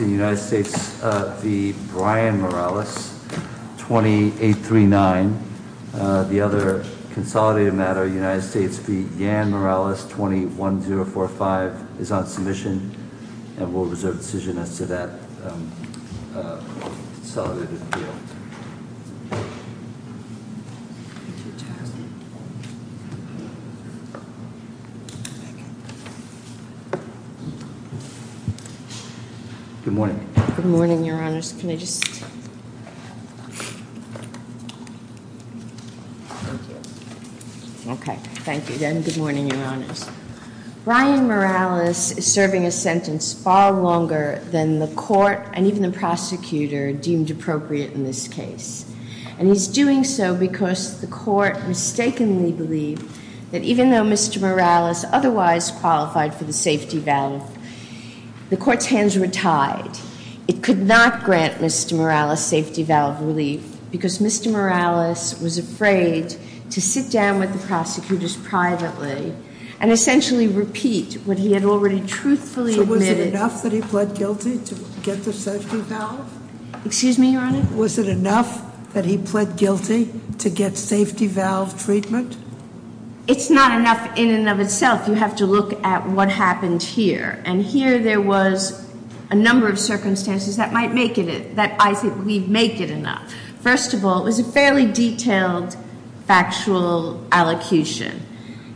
United States v. Brian Morales, 2839. The other consolidated matter, United States Brian Morales is serving a sentence far longer than the court and even the prosecutor deemed appropriate in this case. And he's doing so because the court mistakenly believed that even though Mr. Morales otherwise qualified for the safety valve, the court's hands were tied. It could not grant Mr. Morales safety valve relief because Mr. Morales was afraid to sit down with the prosecutors privately and essentially repeat what he had already truthfully admitted. So was it enough that he pled guilty to get the safety valve? Excuse me, Your Honor? Was it enough that he pled guilty to get safety valve treatment? It's not enough in and of itself. You have to look at what happened here. And here there was a number of circumstances that might make it, that I think we make it enough. First of all, it was a fairly detailed factual allocution.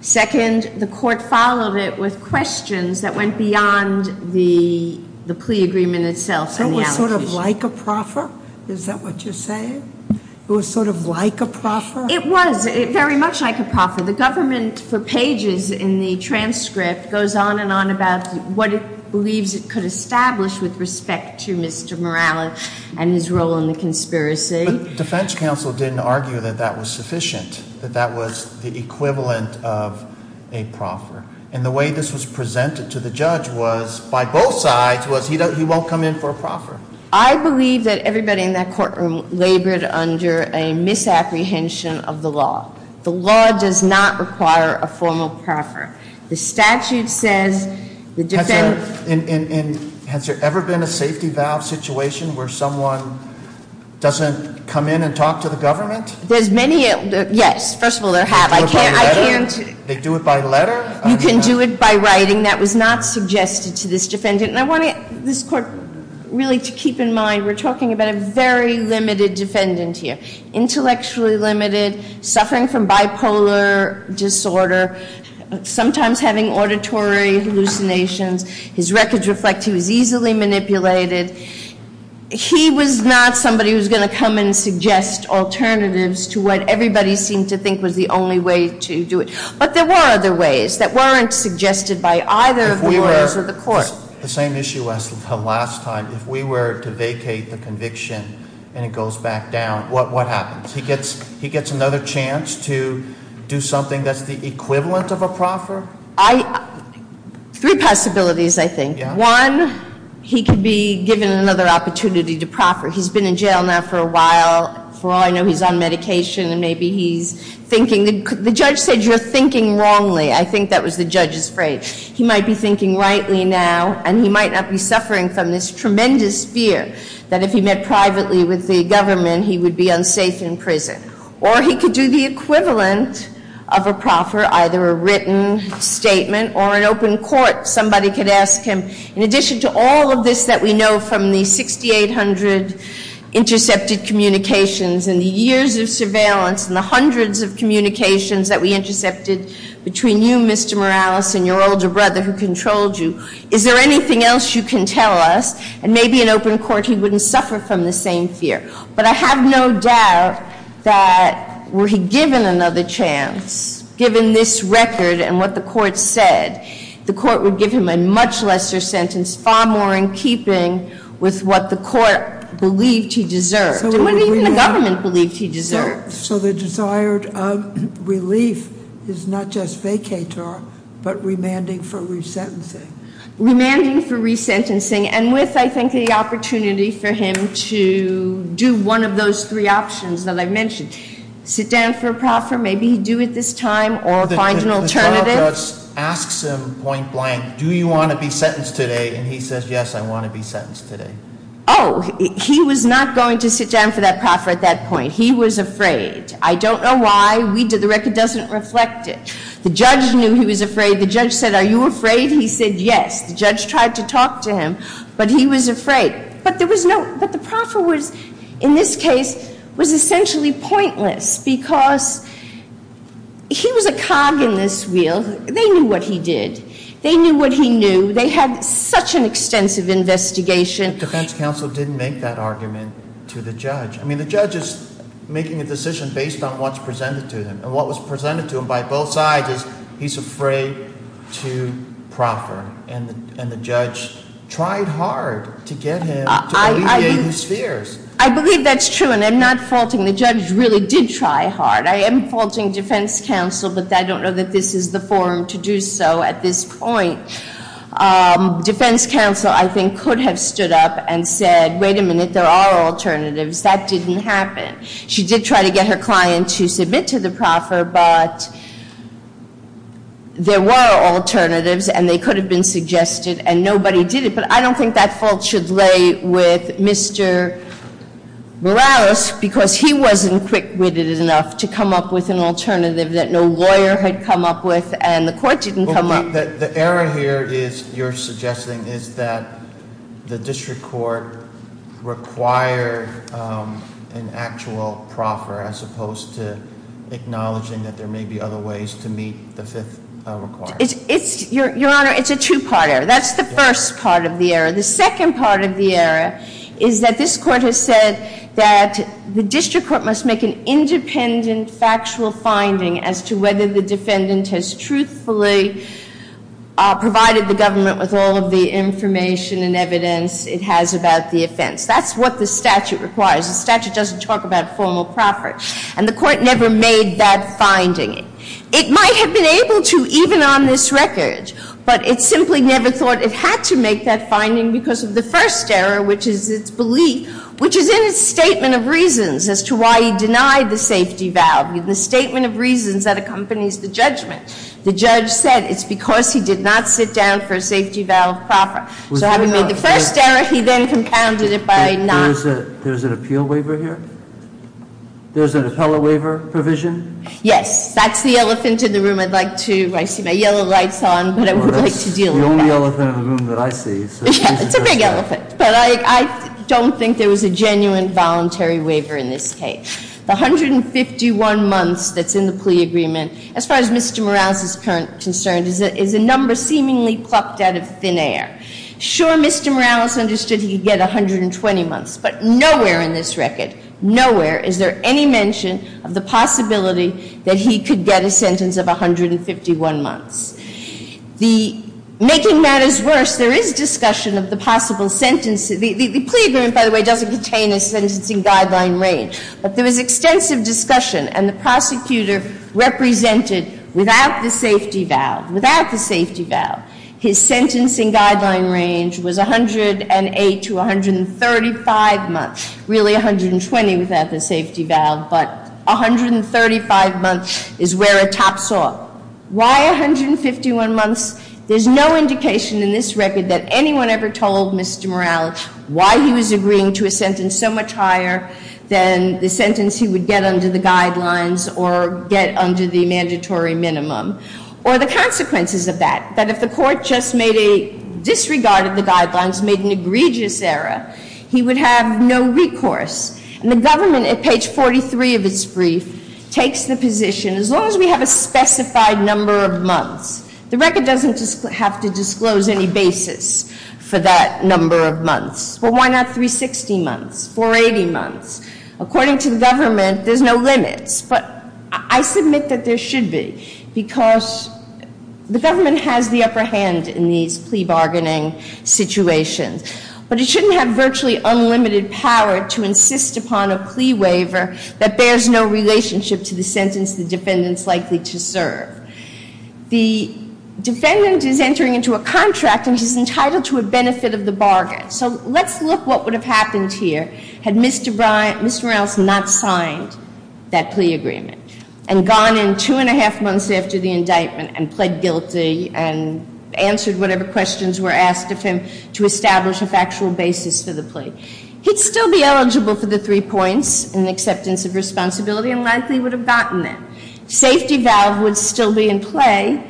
Second, the court followed it with questions that went beyond the plea agreement itself and the allocution. So it was sort of like a proffer? Is that what you're saying? It was sort of like a proffer? It was very much like a proffer. The government for pages in the transcript goes on and on about what it believes it could establish with respect to Mr. Morales and his role in the conspiracy. But defense counsel didn't argue that that was sufficient, that that was the equivalent of a proffer. And the way this was presented to the judge was, by both sides, was he won't come in for a proffer. I believe that everybody in that courtroom labored under a misapprehension of the law. The law does not require a formal proffer. The statute says the defendant... Has there ever been a safety valve situation where someone doesn't come in and talk to the government? There's many... Yes, first of all, there have. I can't... They do it by letter? You can do it by writing. That was not suggested to this defendant. And I want this court really to keep in mind, we're talking about a very limited defendant here. Intellectually limited, suffering from bipolar disorder, sometimes having auditory hallucinations. His records reflect he was easily manipulated. He was not somebody who was going to come and suggest alternatives to what everybody seemed to think was the only way to do it. But there were other ways that weren't suggested by either of the lawyers or the court. The same issue as last time. If we were to vacate the conviction and it goes back down, what happens? He gets another chance to do something that's the equivalent of a proffer? Three possibilities, I think. One, he could be given another opportunity to proffer. He's been in jail now for a while. For all I know, he's on medication and maybe he's thinking... The judge said you're thinking wrongly. I think that was the judge's phrase. He might be thinking rightly now, and he might not be suffering from this tremendous fear that if he met privately with the government, he would be unsafe in prison. Or he could do the equivalent of a proffer, either a written statement or an open court. Somebody could ask him, in addition to all of this that we know from the 6,800 intercepted communications and the years of surveillance and the hundreds of communications that we intercepted between you, Mr. Morales, and your older brother who controlled you, is there anything else you can tell us? And maybe in open court he wouldn't suffer from the same fear. But I have no doubt that were he given another chance, given this record and what the court said, the court would give him a much lesser sentence, far more in keeping with what the court believed he deserved, and what even the government believed he deserved. So the desired relief is not just vacator, but remanding for resentencing? Remanding for resentencing, and with, I think, the opportunity for him to do one of those three options that I mentioned. Sit down for a proffer, maybe he'd do it this time, or find an alternative. The trial judge asks him point blank, do you want to be sentenced today? And he says, yes, I want to be sentenced today. Oh, he was not going to sit down for that proffer at that point. He was afraid. I don't know why. The record doesn't reflect it. The judge knew he was afraid. The judge said, are you afraid? He said, yes. The judge tried to talk to him, but he was afraid. But there was no, but the proffer was, in this case, was essentially pointless, because he was a cog in this wheel. They knew what he did. They knew what he knew. They had such an extensive investigation. The defense counsel didn't make that argument to the judge. I mean, the judge is making a decision based on what's presented to him. And what was presented to him by both sides is he's afraid to proffer. And the judge tried hard to get him to alleviate his fears. I believe that's true, and I'm not faulting. The judge really did try hard. I am faulting defense counsel, but I don't know that this is the forum to do so at this point. Defense counsel, I think, could have stood up and said, wait a minute, there are alternatives. That didn't happen. She did try to get her client to submit to the proffer, but there were alternatives, and they could have been suggested, and nobody did it. But I don't think that fault should lay with Mr. Morales, because he wasn't quick-witted enough to come up with an alternative that no lawyer had come up with, and the court didn't come up with. The error here is, you're suggesting, is that the district court required an actual proffer as opposed to acknowledging that there may be other ways to meet the fifth requirement. Your Honor, it's a two-part error. That's the first part of the error. The second part of the error is that this court has said that the district court must make an independent factual finding as to whether the defendant has truthfully provided the government with all of the information and evidence it has about the offense. That's what the statute requires. The statute doesn't talk about formal proffers, and the court never made that finding. It might have been able to even on this record, but it simply never thought it had to make that finding because of the first error, which is its belief, which is in its statement of reasons as to why he denied the safety valve, the statement of reasons that accompanies the judgment. The judge said it's because he did not sit down for a safety valve proffer. So having made the first error, he then compounded it by not – There's an appeal waiver here? There's an appellate waiver provision? Yes. That's the elephant in the room. I'd like to – I see my yellow lights on, but I would like to deal with that. Well, that's the only elephant in the room that I see, so please address that. It's a big elephant, but I don't think there was a genuine voluntary waiver in this case. The 151 months that's in the plea agreement, as far as Mr. Morales is concerned, is a number seemingly plucked out of thin air. Sure, Mr. Morales understood he could get 120 months, but nowhere in this record, nowhere is there any mention of the possibility that he could get a sentence of 151 months. The – making matters worse, there is discussion of the possible sentence – the plea agreement, by the way, doesn't contain a sentencing guideline range, but there was extensive discussion, and the prosecutor represented without the safety valve, without the safety valve, his sentencing guideline range was 108 to 135 months, really 120 without the safety valve, but 135 months is where it tops off. Why 151 months? There's no indication in this record that anyone ever told Mr. Morales why he was agreeing to a sentence so much higher than the sentence he would get under the guidelines or get under the mandatory minimum, or the consequences of that, that if the court just made a – disregarded the guidelines, made an egregious error, he would have no recourse. And the government, at page 43 of its brief, takes the position, as long as we have a specified number of months, the record doesn't have to disclose any basis for that number of months. Well, why not 360 months, 480 months? According to the government, there's no limits, but I submit that there should be, because the government has the upper hand in these plea to insist upon a plea waiver that bears no relationship to the sentence the defendant is likely to serve. The defendant is entering into a contract and is entitled to a benefit of the bargain. So let's look what would have happened here had Mr. Morales not signed that plea agreement and gone in two and a half months after the indictment and pled guilty and answered whatever questions were asked of him to establish a factual basis for the plea. He'd still be eligible for the three points in acceptance of responsibility and likely would have gotten them. Safety valve would still be in play,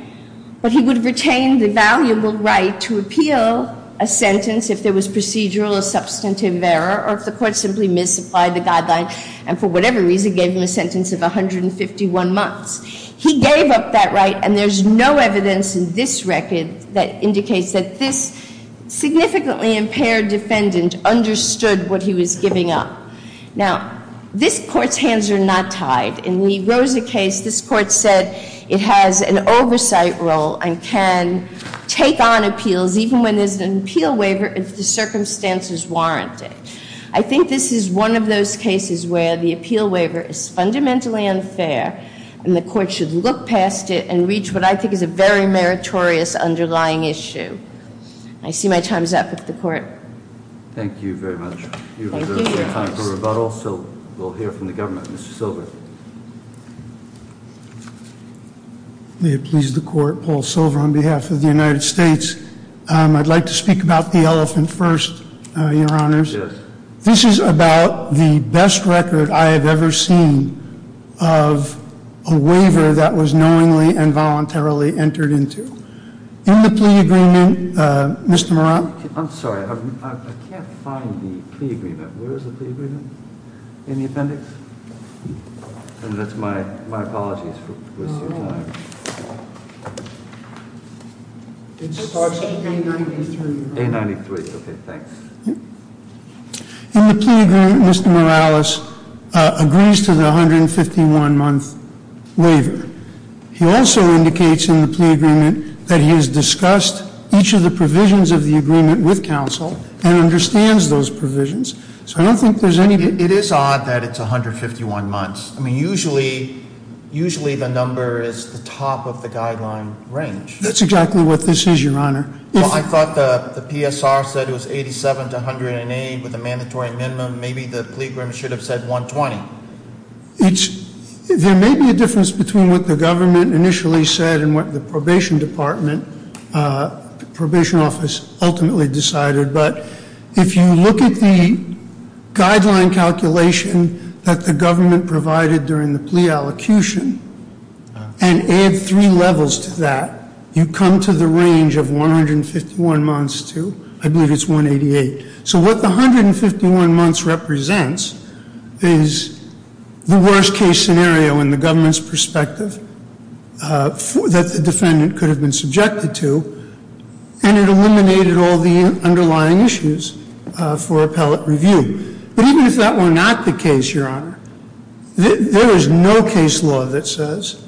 but he would retain the valuable right to appeal a sentence if there was procedural or substantive error or if the court simply misapplied the guideline and for whatever reason gave him a sentence of 151 months. He gave up that right and there's no evidence in this record that indicates that this significantly impaired defendant understood what he was giving up. Now, this court's hands are not tied. In the Rosa case, this court said it has an oversight role and can take on appeals even when there's an appeal waiver if the circumstances warrant it. I think this is one of those cases where the appeal waiver is fundamentally unfair and the court should look past it and reach what I think is a very meritorious underlying issue. I see my time is up with the court. Thank you very much. We have time for rebuttal, so we'll hear from the government. Mr. Silver. May it please the court, Paul Silver on behalf of the United States. I'd like to speak about the elephant first, your honors. This is about the best record I have ever seen of a waiver that was knowingly and voluntarily entered into. In the plea agreement, Mr. Morales. I'm sorry, I can't find the plea agreement. Where is the plea agreement? In the appendix? That's my apologies for wasting time. It starts with A93. A93, okay, thanks. In the plea agreement, Mr. Morales agrees to the 151-month waiver. He also indicates in the plea agreement that he has discussed each of the provisions of the agreement with counsel and understands those provisions. So I don't think there's any... It is odd that it's 151 months. I mean, usually the number is the top of the guideline range. That's exactly what this is, your honor. I thought the PSR said it was 87 to 108 with a mandatory minimum. Maybe the plea agreement should have said 120. There may be a difference between what the government initially said and what the probation department, probation office ultimately decided, but if you look at the guideline calculation that the government provided during the plea allocation and add three levels to that, you come to the range of 151 months to, I believe it's 188. So what the 151 months represents is the worst case scenario in the government's perspective that the defendant could have been subjected to, and it eliminated all the underlying issues for appellate review. But even if that were not the case, your honor, there is no case law that says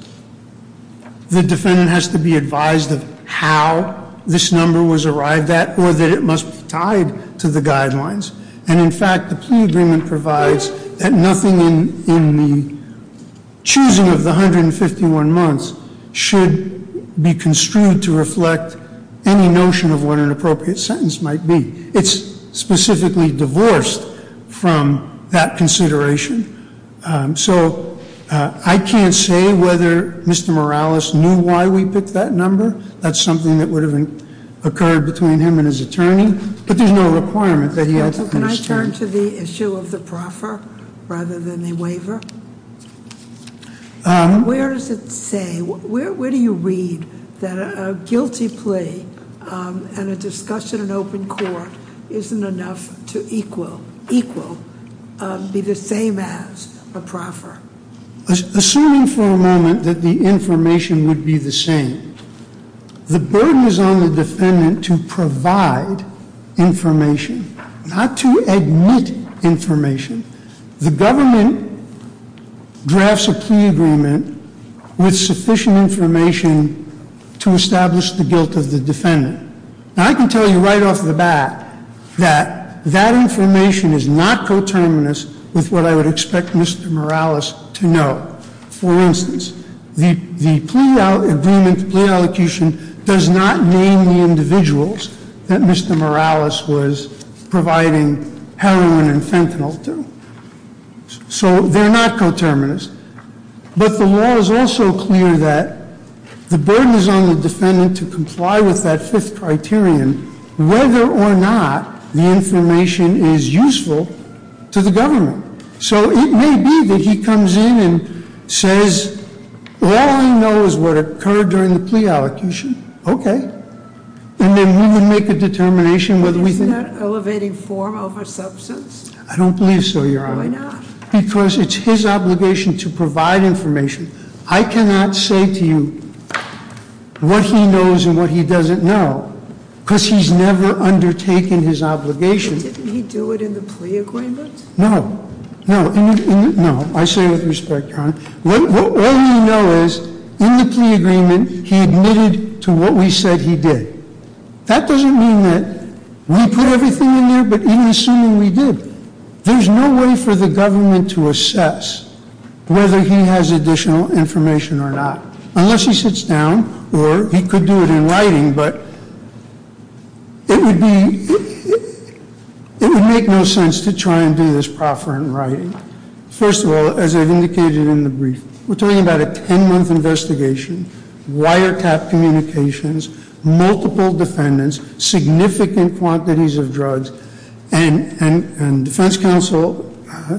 the defendant has to be advised of how this number was arrived at or that it must be tied to the guidelines. And in fact, the plea agreement provides that nothing in the choosing of the 151 months should be construed to reflect any notion of what an Mr. Morales knew why we picked that number. That's something that would have occurred between him and his attorney, but there's no requirement that he had to understand. Can I turn to the issue of the proffer rather than the waiver? Where does it say, where do you read that a guilty plea and a discussion in open court isn't enough to equal, be the same as a proffer? Assuming for a moment that the information would be the same, the burden is on the defendant to provide information, not to admit information. The government drafts a plea agreement with sufficient information to establish the guilt of the defendant. Now, I can tell you right off the bat that that information is not coterminous with what I would expect Mr. Morales to know. For instance, the plea agreement, plea allocation does not name the individuals that Mr. Morales was providing heroin and fentanyl to. So they're not coterminous. But the law is also clear that the burden is on the defendant to comply with that fifth criterion, whether or not the information is useful to the government. So it may be that he comes in and says, all I know is what occurred during the plea allocation. Okay. And then we would make a determination whether we think- Is that elevating form over substance? I don't believe so, Your Honor. Why not? Because it's his obligation to provide information. I cannot say to you what he knows and what he doesn't know because he's never undertaken his obligation. Didn't he do it in the plea agreement? No. No. I say with respect, Your Honor. All we know is in the plea agreement, he admitted to what we said he did. That doesn't mean that we put everything in there, but even assuming we did, there's no way for the government to assess whether he has additional information or not. Unless he sits down or he could do it in writing, but it would be- It would make no sense to try and do this proffer in writing. First of all, as I've indicated in the brief, we're talking about a ten-month investigation, wiretap communications, multiple defendants, significant quantities of drugs, and defense counsel,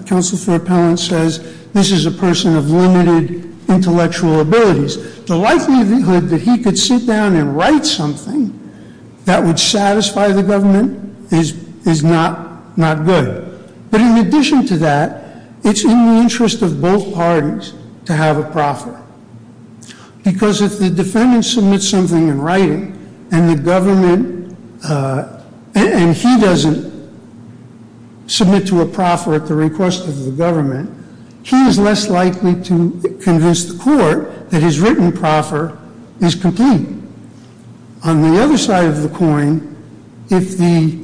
counsel for appellant says, this is a person of limited intellectual abilities. The likelihood that he could sit down and write something that would satisfy the government is not good. But in addition to that, it's in the interest of both parties to have a proffer because if the defendant submits something in writing and the government- and he doesn't submit to a proffer at the request of the government, he is less likely to convince the court that his written proffer is complete. On the other side of the coin, if the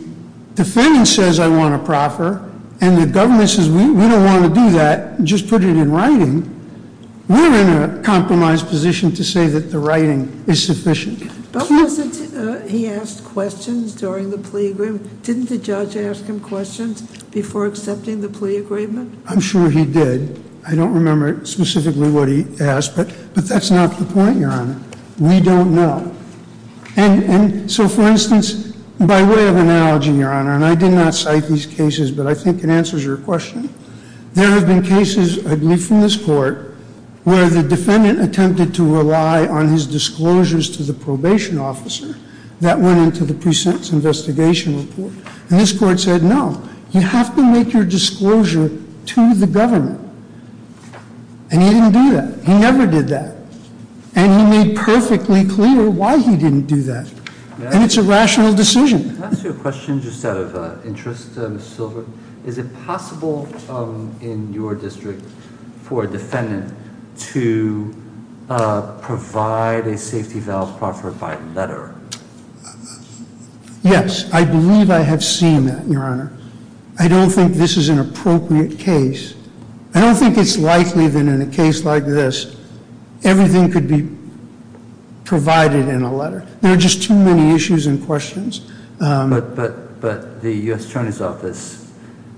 defendant says I want a proffer and the government says we don't want to do that, just put it in writing, we're in a compromised position to say that the writing is sufficient. He asked questions during the plea agreement. Didn't the judge ask him questions before accepting the plea agreement? I'm sure he did. I don't remember specifically what he asked, but that's not the point, Your Honor. We don't know. And so, for instance, by way of analogy, Your Honor, and I did not cite these cases, but I think it answers your question. There have been cases, I believe from this court, where the defendant attempted to rely on his disclosures to the probation officer that went into the precinct's investigation report. And this court said no, you have to make your disclosure to the government. And he didn't do that. He never did that. And he made perfectly clear why he didn't do that. And it's a rational decision. Can I ask you a question just out of interest, Ms. Silver? Is it possible in your district for a defendant to provide a safety valve proffered by letter? Yes, I believe I have seen that, Your Honor. I don't think this is an appropriate case. I don't think it's likely that in a case like this, everything could be provided in a letter. There are just too many issues and questions. But the U.S. Attorney's Office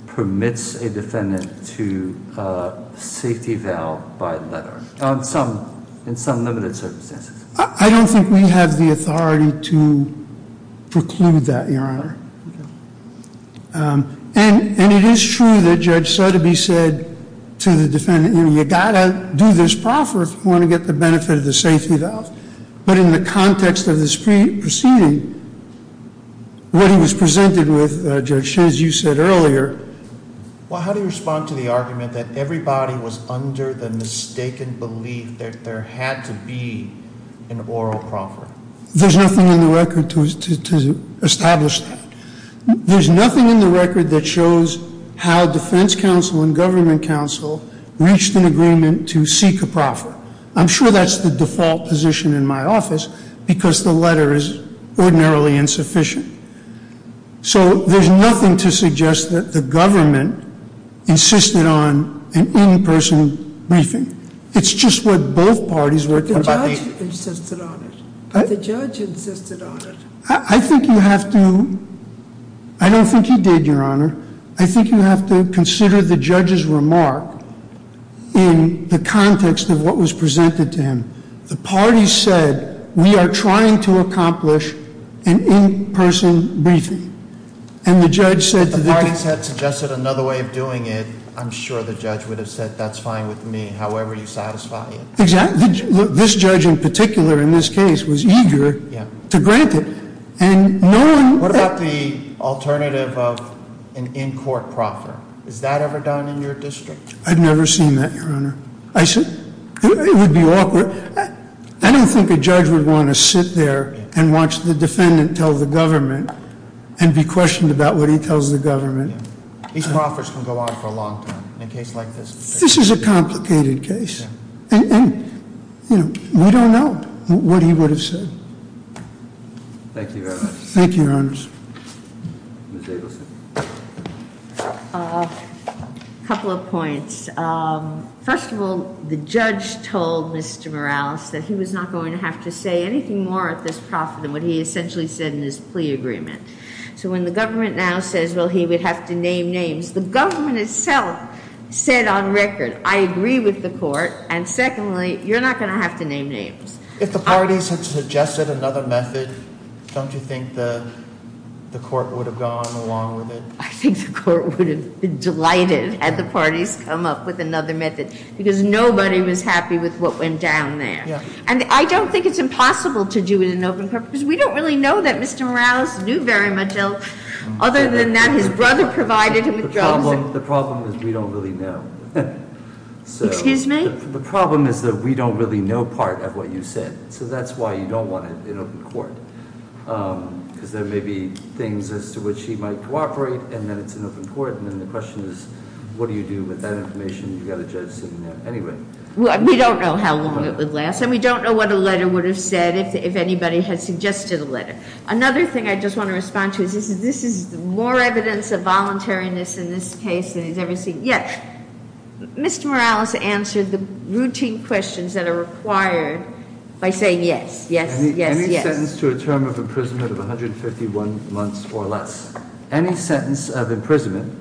permits a defendant to safety valve by letter, in some limited circumstances. I don't think we have the authority to preclude that, Your Honor. And it is true that Judge Sotheby said to the defendant, you know, you've got to do this proffer if you want to get the benefit of the safety valve. But in the context of this proceeding, what he was presented with, Judge Shins, you said earlier... Well, how do you respond to the argument that everybody was under the mistaken belief that there had to be an oral proffer? There's nothing in the record to establish that. There's nothing in the record that shows how defense counsel and government counsel reached an agreement to seek a proffer. I'm sure that's the default position in my office, because the letter is ordinarily insufficient. So there's nothing to suggest that the government insisted on an in-person briefing. It's just what both parties were... I think you have to... I don't think he did, Your Honor. I think you have to consider the judge's remark in the context of what was presented to him. The parties said, we are trying to accomplish an in-person briefing. And the judge said... The parties had suggested another way of doing it. I'm sure the judge would have said, that's fine with me, however you satisfy it. This judge in particular, in this case, was eager to grant it. What about the alternative of an in-court proffer? Is that ever done in your district? I've never seen that, Your Honor. It would be awkward. I don't think a judge would want to sit there and watch the defendant tell the government and be questioned about what he tells the government. This is a complicated case. We don't know what he would have said. Thank you, Your Honor. A couple of points. First of all, the judge told Mr. Morales that he was not going to have to say anything more at this proffer than what he essentially said in his plea agreement. So when the government now says, well, he would have to name names, the government itself said on record, I agree with the court, and secondly, you're not going to have to name names. If the parties had suggested another method, don't you think the court would have gone along with it? I think the court would have been delighted had the parties come up with another method, because nobody was happy with what went down there. And I don't think it's impossible to do it in open court, because we don't really know that Mr. Morales knew very much other than that his brother provided him with drugs. The problem is that we don't really know part of what you said. So that's why you don't want it in open court. Because there may be things as to which he might cooperate, and then it's in open court, and then the question is, what do you do with that information? You've got a judge sitting there anyway. We don't know how long it would last, and we don't know what a letter would have said if anybody had suggested a letter. Another thing I just want to respond to is this is more evidence of voluntariness in this case than he's ever seen. Yes, Mr. Morales answered the routine questions that are required by saying yes, yes, yes, yes. Any sentence to a term of imprisonment of 151 months or less. Any sentence of imprisonment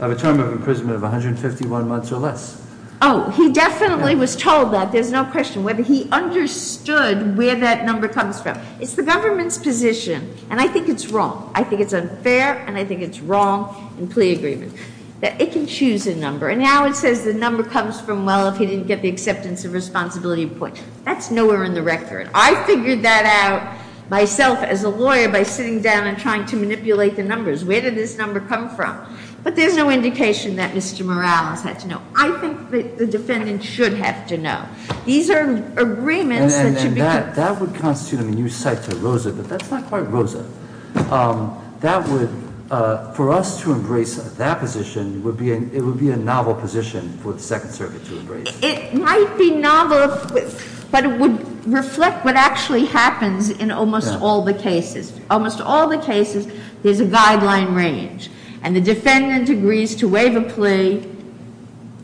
of a term of imprisonment of 151 months or less. Oh, he definitely was told that. There's no question whether he understood where that number comes from. It's the government's position, and I think it's wrong. I think it's unfair, and I think it's wrong in plea agreement, that it can choose a number. And now it says the number comes from, well, if he didn't get the acceptance of responsibility point. That's nowhere in the record. I figured that out myself as a lawyer by sitting down and trying to manipulate the numbers. Where did this number come from? But there's no indication that Mr. Morales had to know. I think the defendant should have to know. These are agreements that should be- And that would constitute a new site to Rosa, but that's not quite Rosa. That would, for us to embrace that position, it would be a novel position for the Second Circuit to embrace. It might be novel, but it would reflect what actually happens in almost all the cases. Almost all the cases, there's a guideline range. And the defendant agrees to waive a plea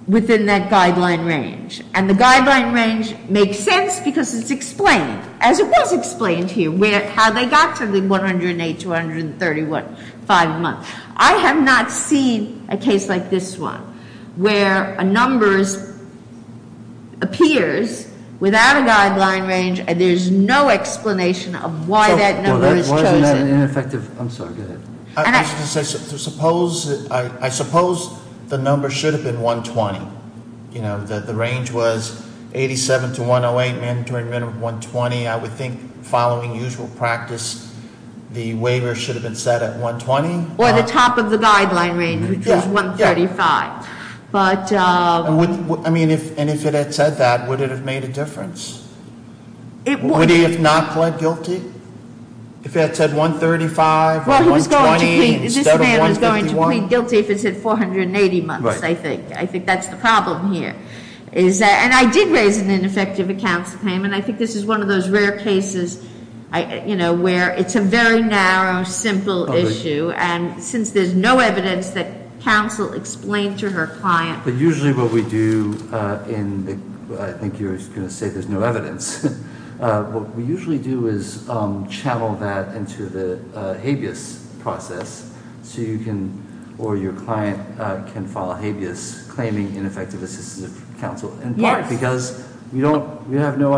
within that guideline range. And the guideline range makes sense because it's explained, as it was explained here, how they got to the 108, 231, five months. I have not seen a case like this one, where a number appears without a guideline range and there's no explanation of why that number is chosen. Why isn't that an ineffective? I'm sorry, go ahead. I was going to say, I suppose the number should have been 120. The range was 87 to 108, mandatory minimum 120. I would think following usual practice, the waiver should have been set at 120. Or the top of the guideline range, which is 135. But- I mean, and if it had said that, would it have made a difference? It would. Would he have not pled guilty? If it had said 135 or 120 instead of 151? Well, this man was going to plead guilty if it said 480 months, I think. I think that's the problem here. And I did raise an ineffective accounts claim, and I think this is one of those rare cases where it's a very narrow, simple issue. And since there's no evidence that counsel explained to her client- But usually what we do in the, I think you were just going to say there's no evidence. What we usually do is channel that into the habeas process so you can, or your client, can file a habeas claiming ineffective assistance of counsel. Yes. Because we have no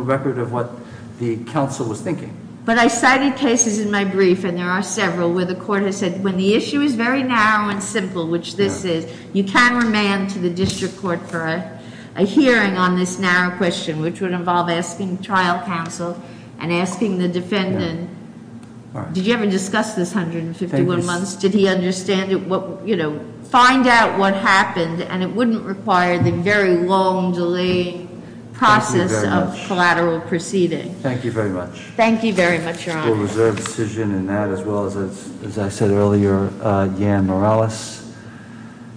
record of what the counsel was thinking. But I cited cases in my brief, and there are several, where the court has said when the issue is very narrow and simple, which this is, you can remand to the district court for a hearing on this narrow question, which would involve asking trial counsel and asking the defendant, did you ever discuss this 151 months? Did he understand it? Find out what happened, and it wouldn't require the very long, delayed process of collateral proceeding. Thank you very much. Thank you very much, Your Honor. We'll reserve the decision in that, as well as, as I said earlier, Jan Morales.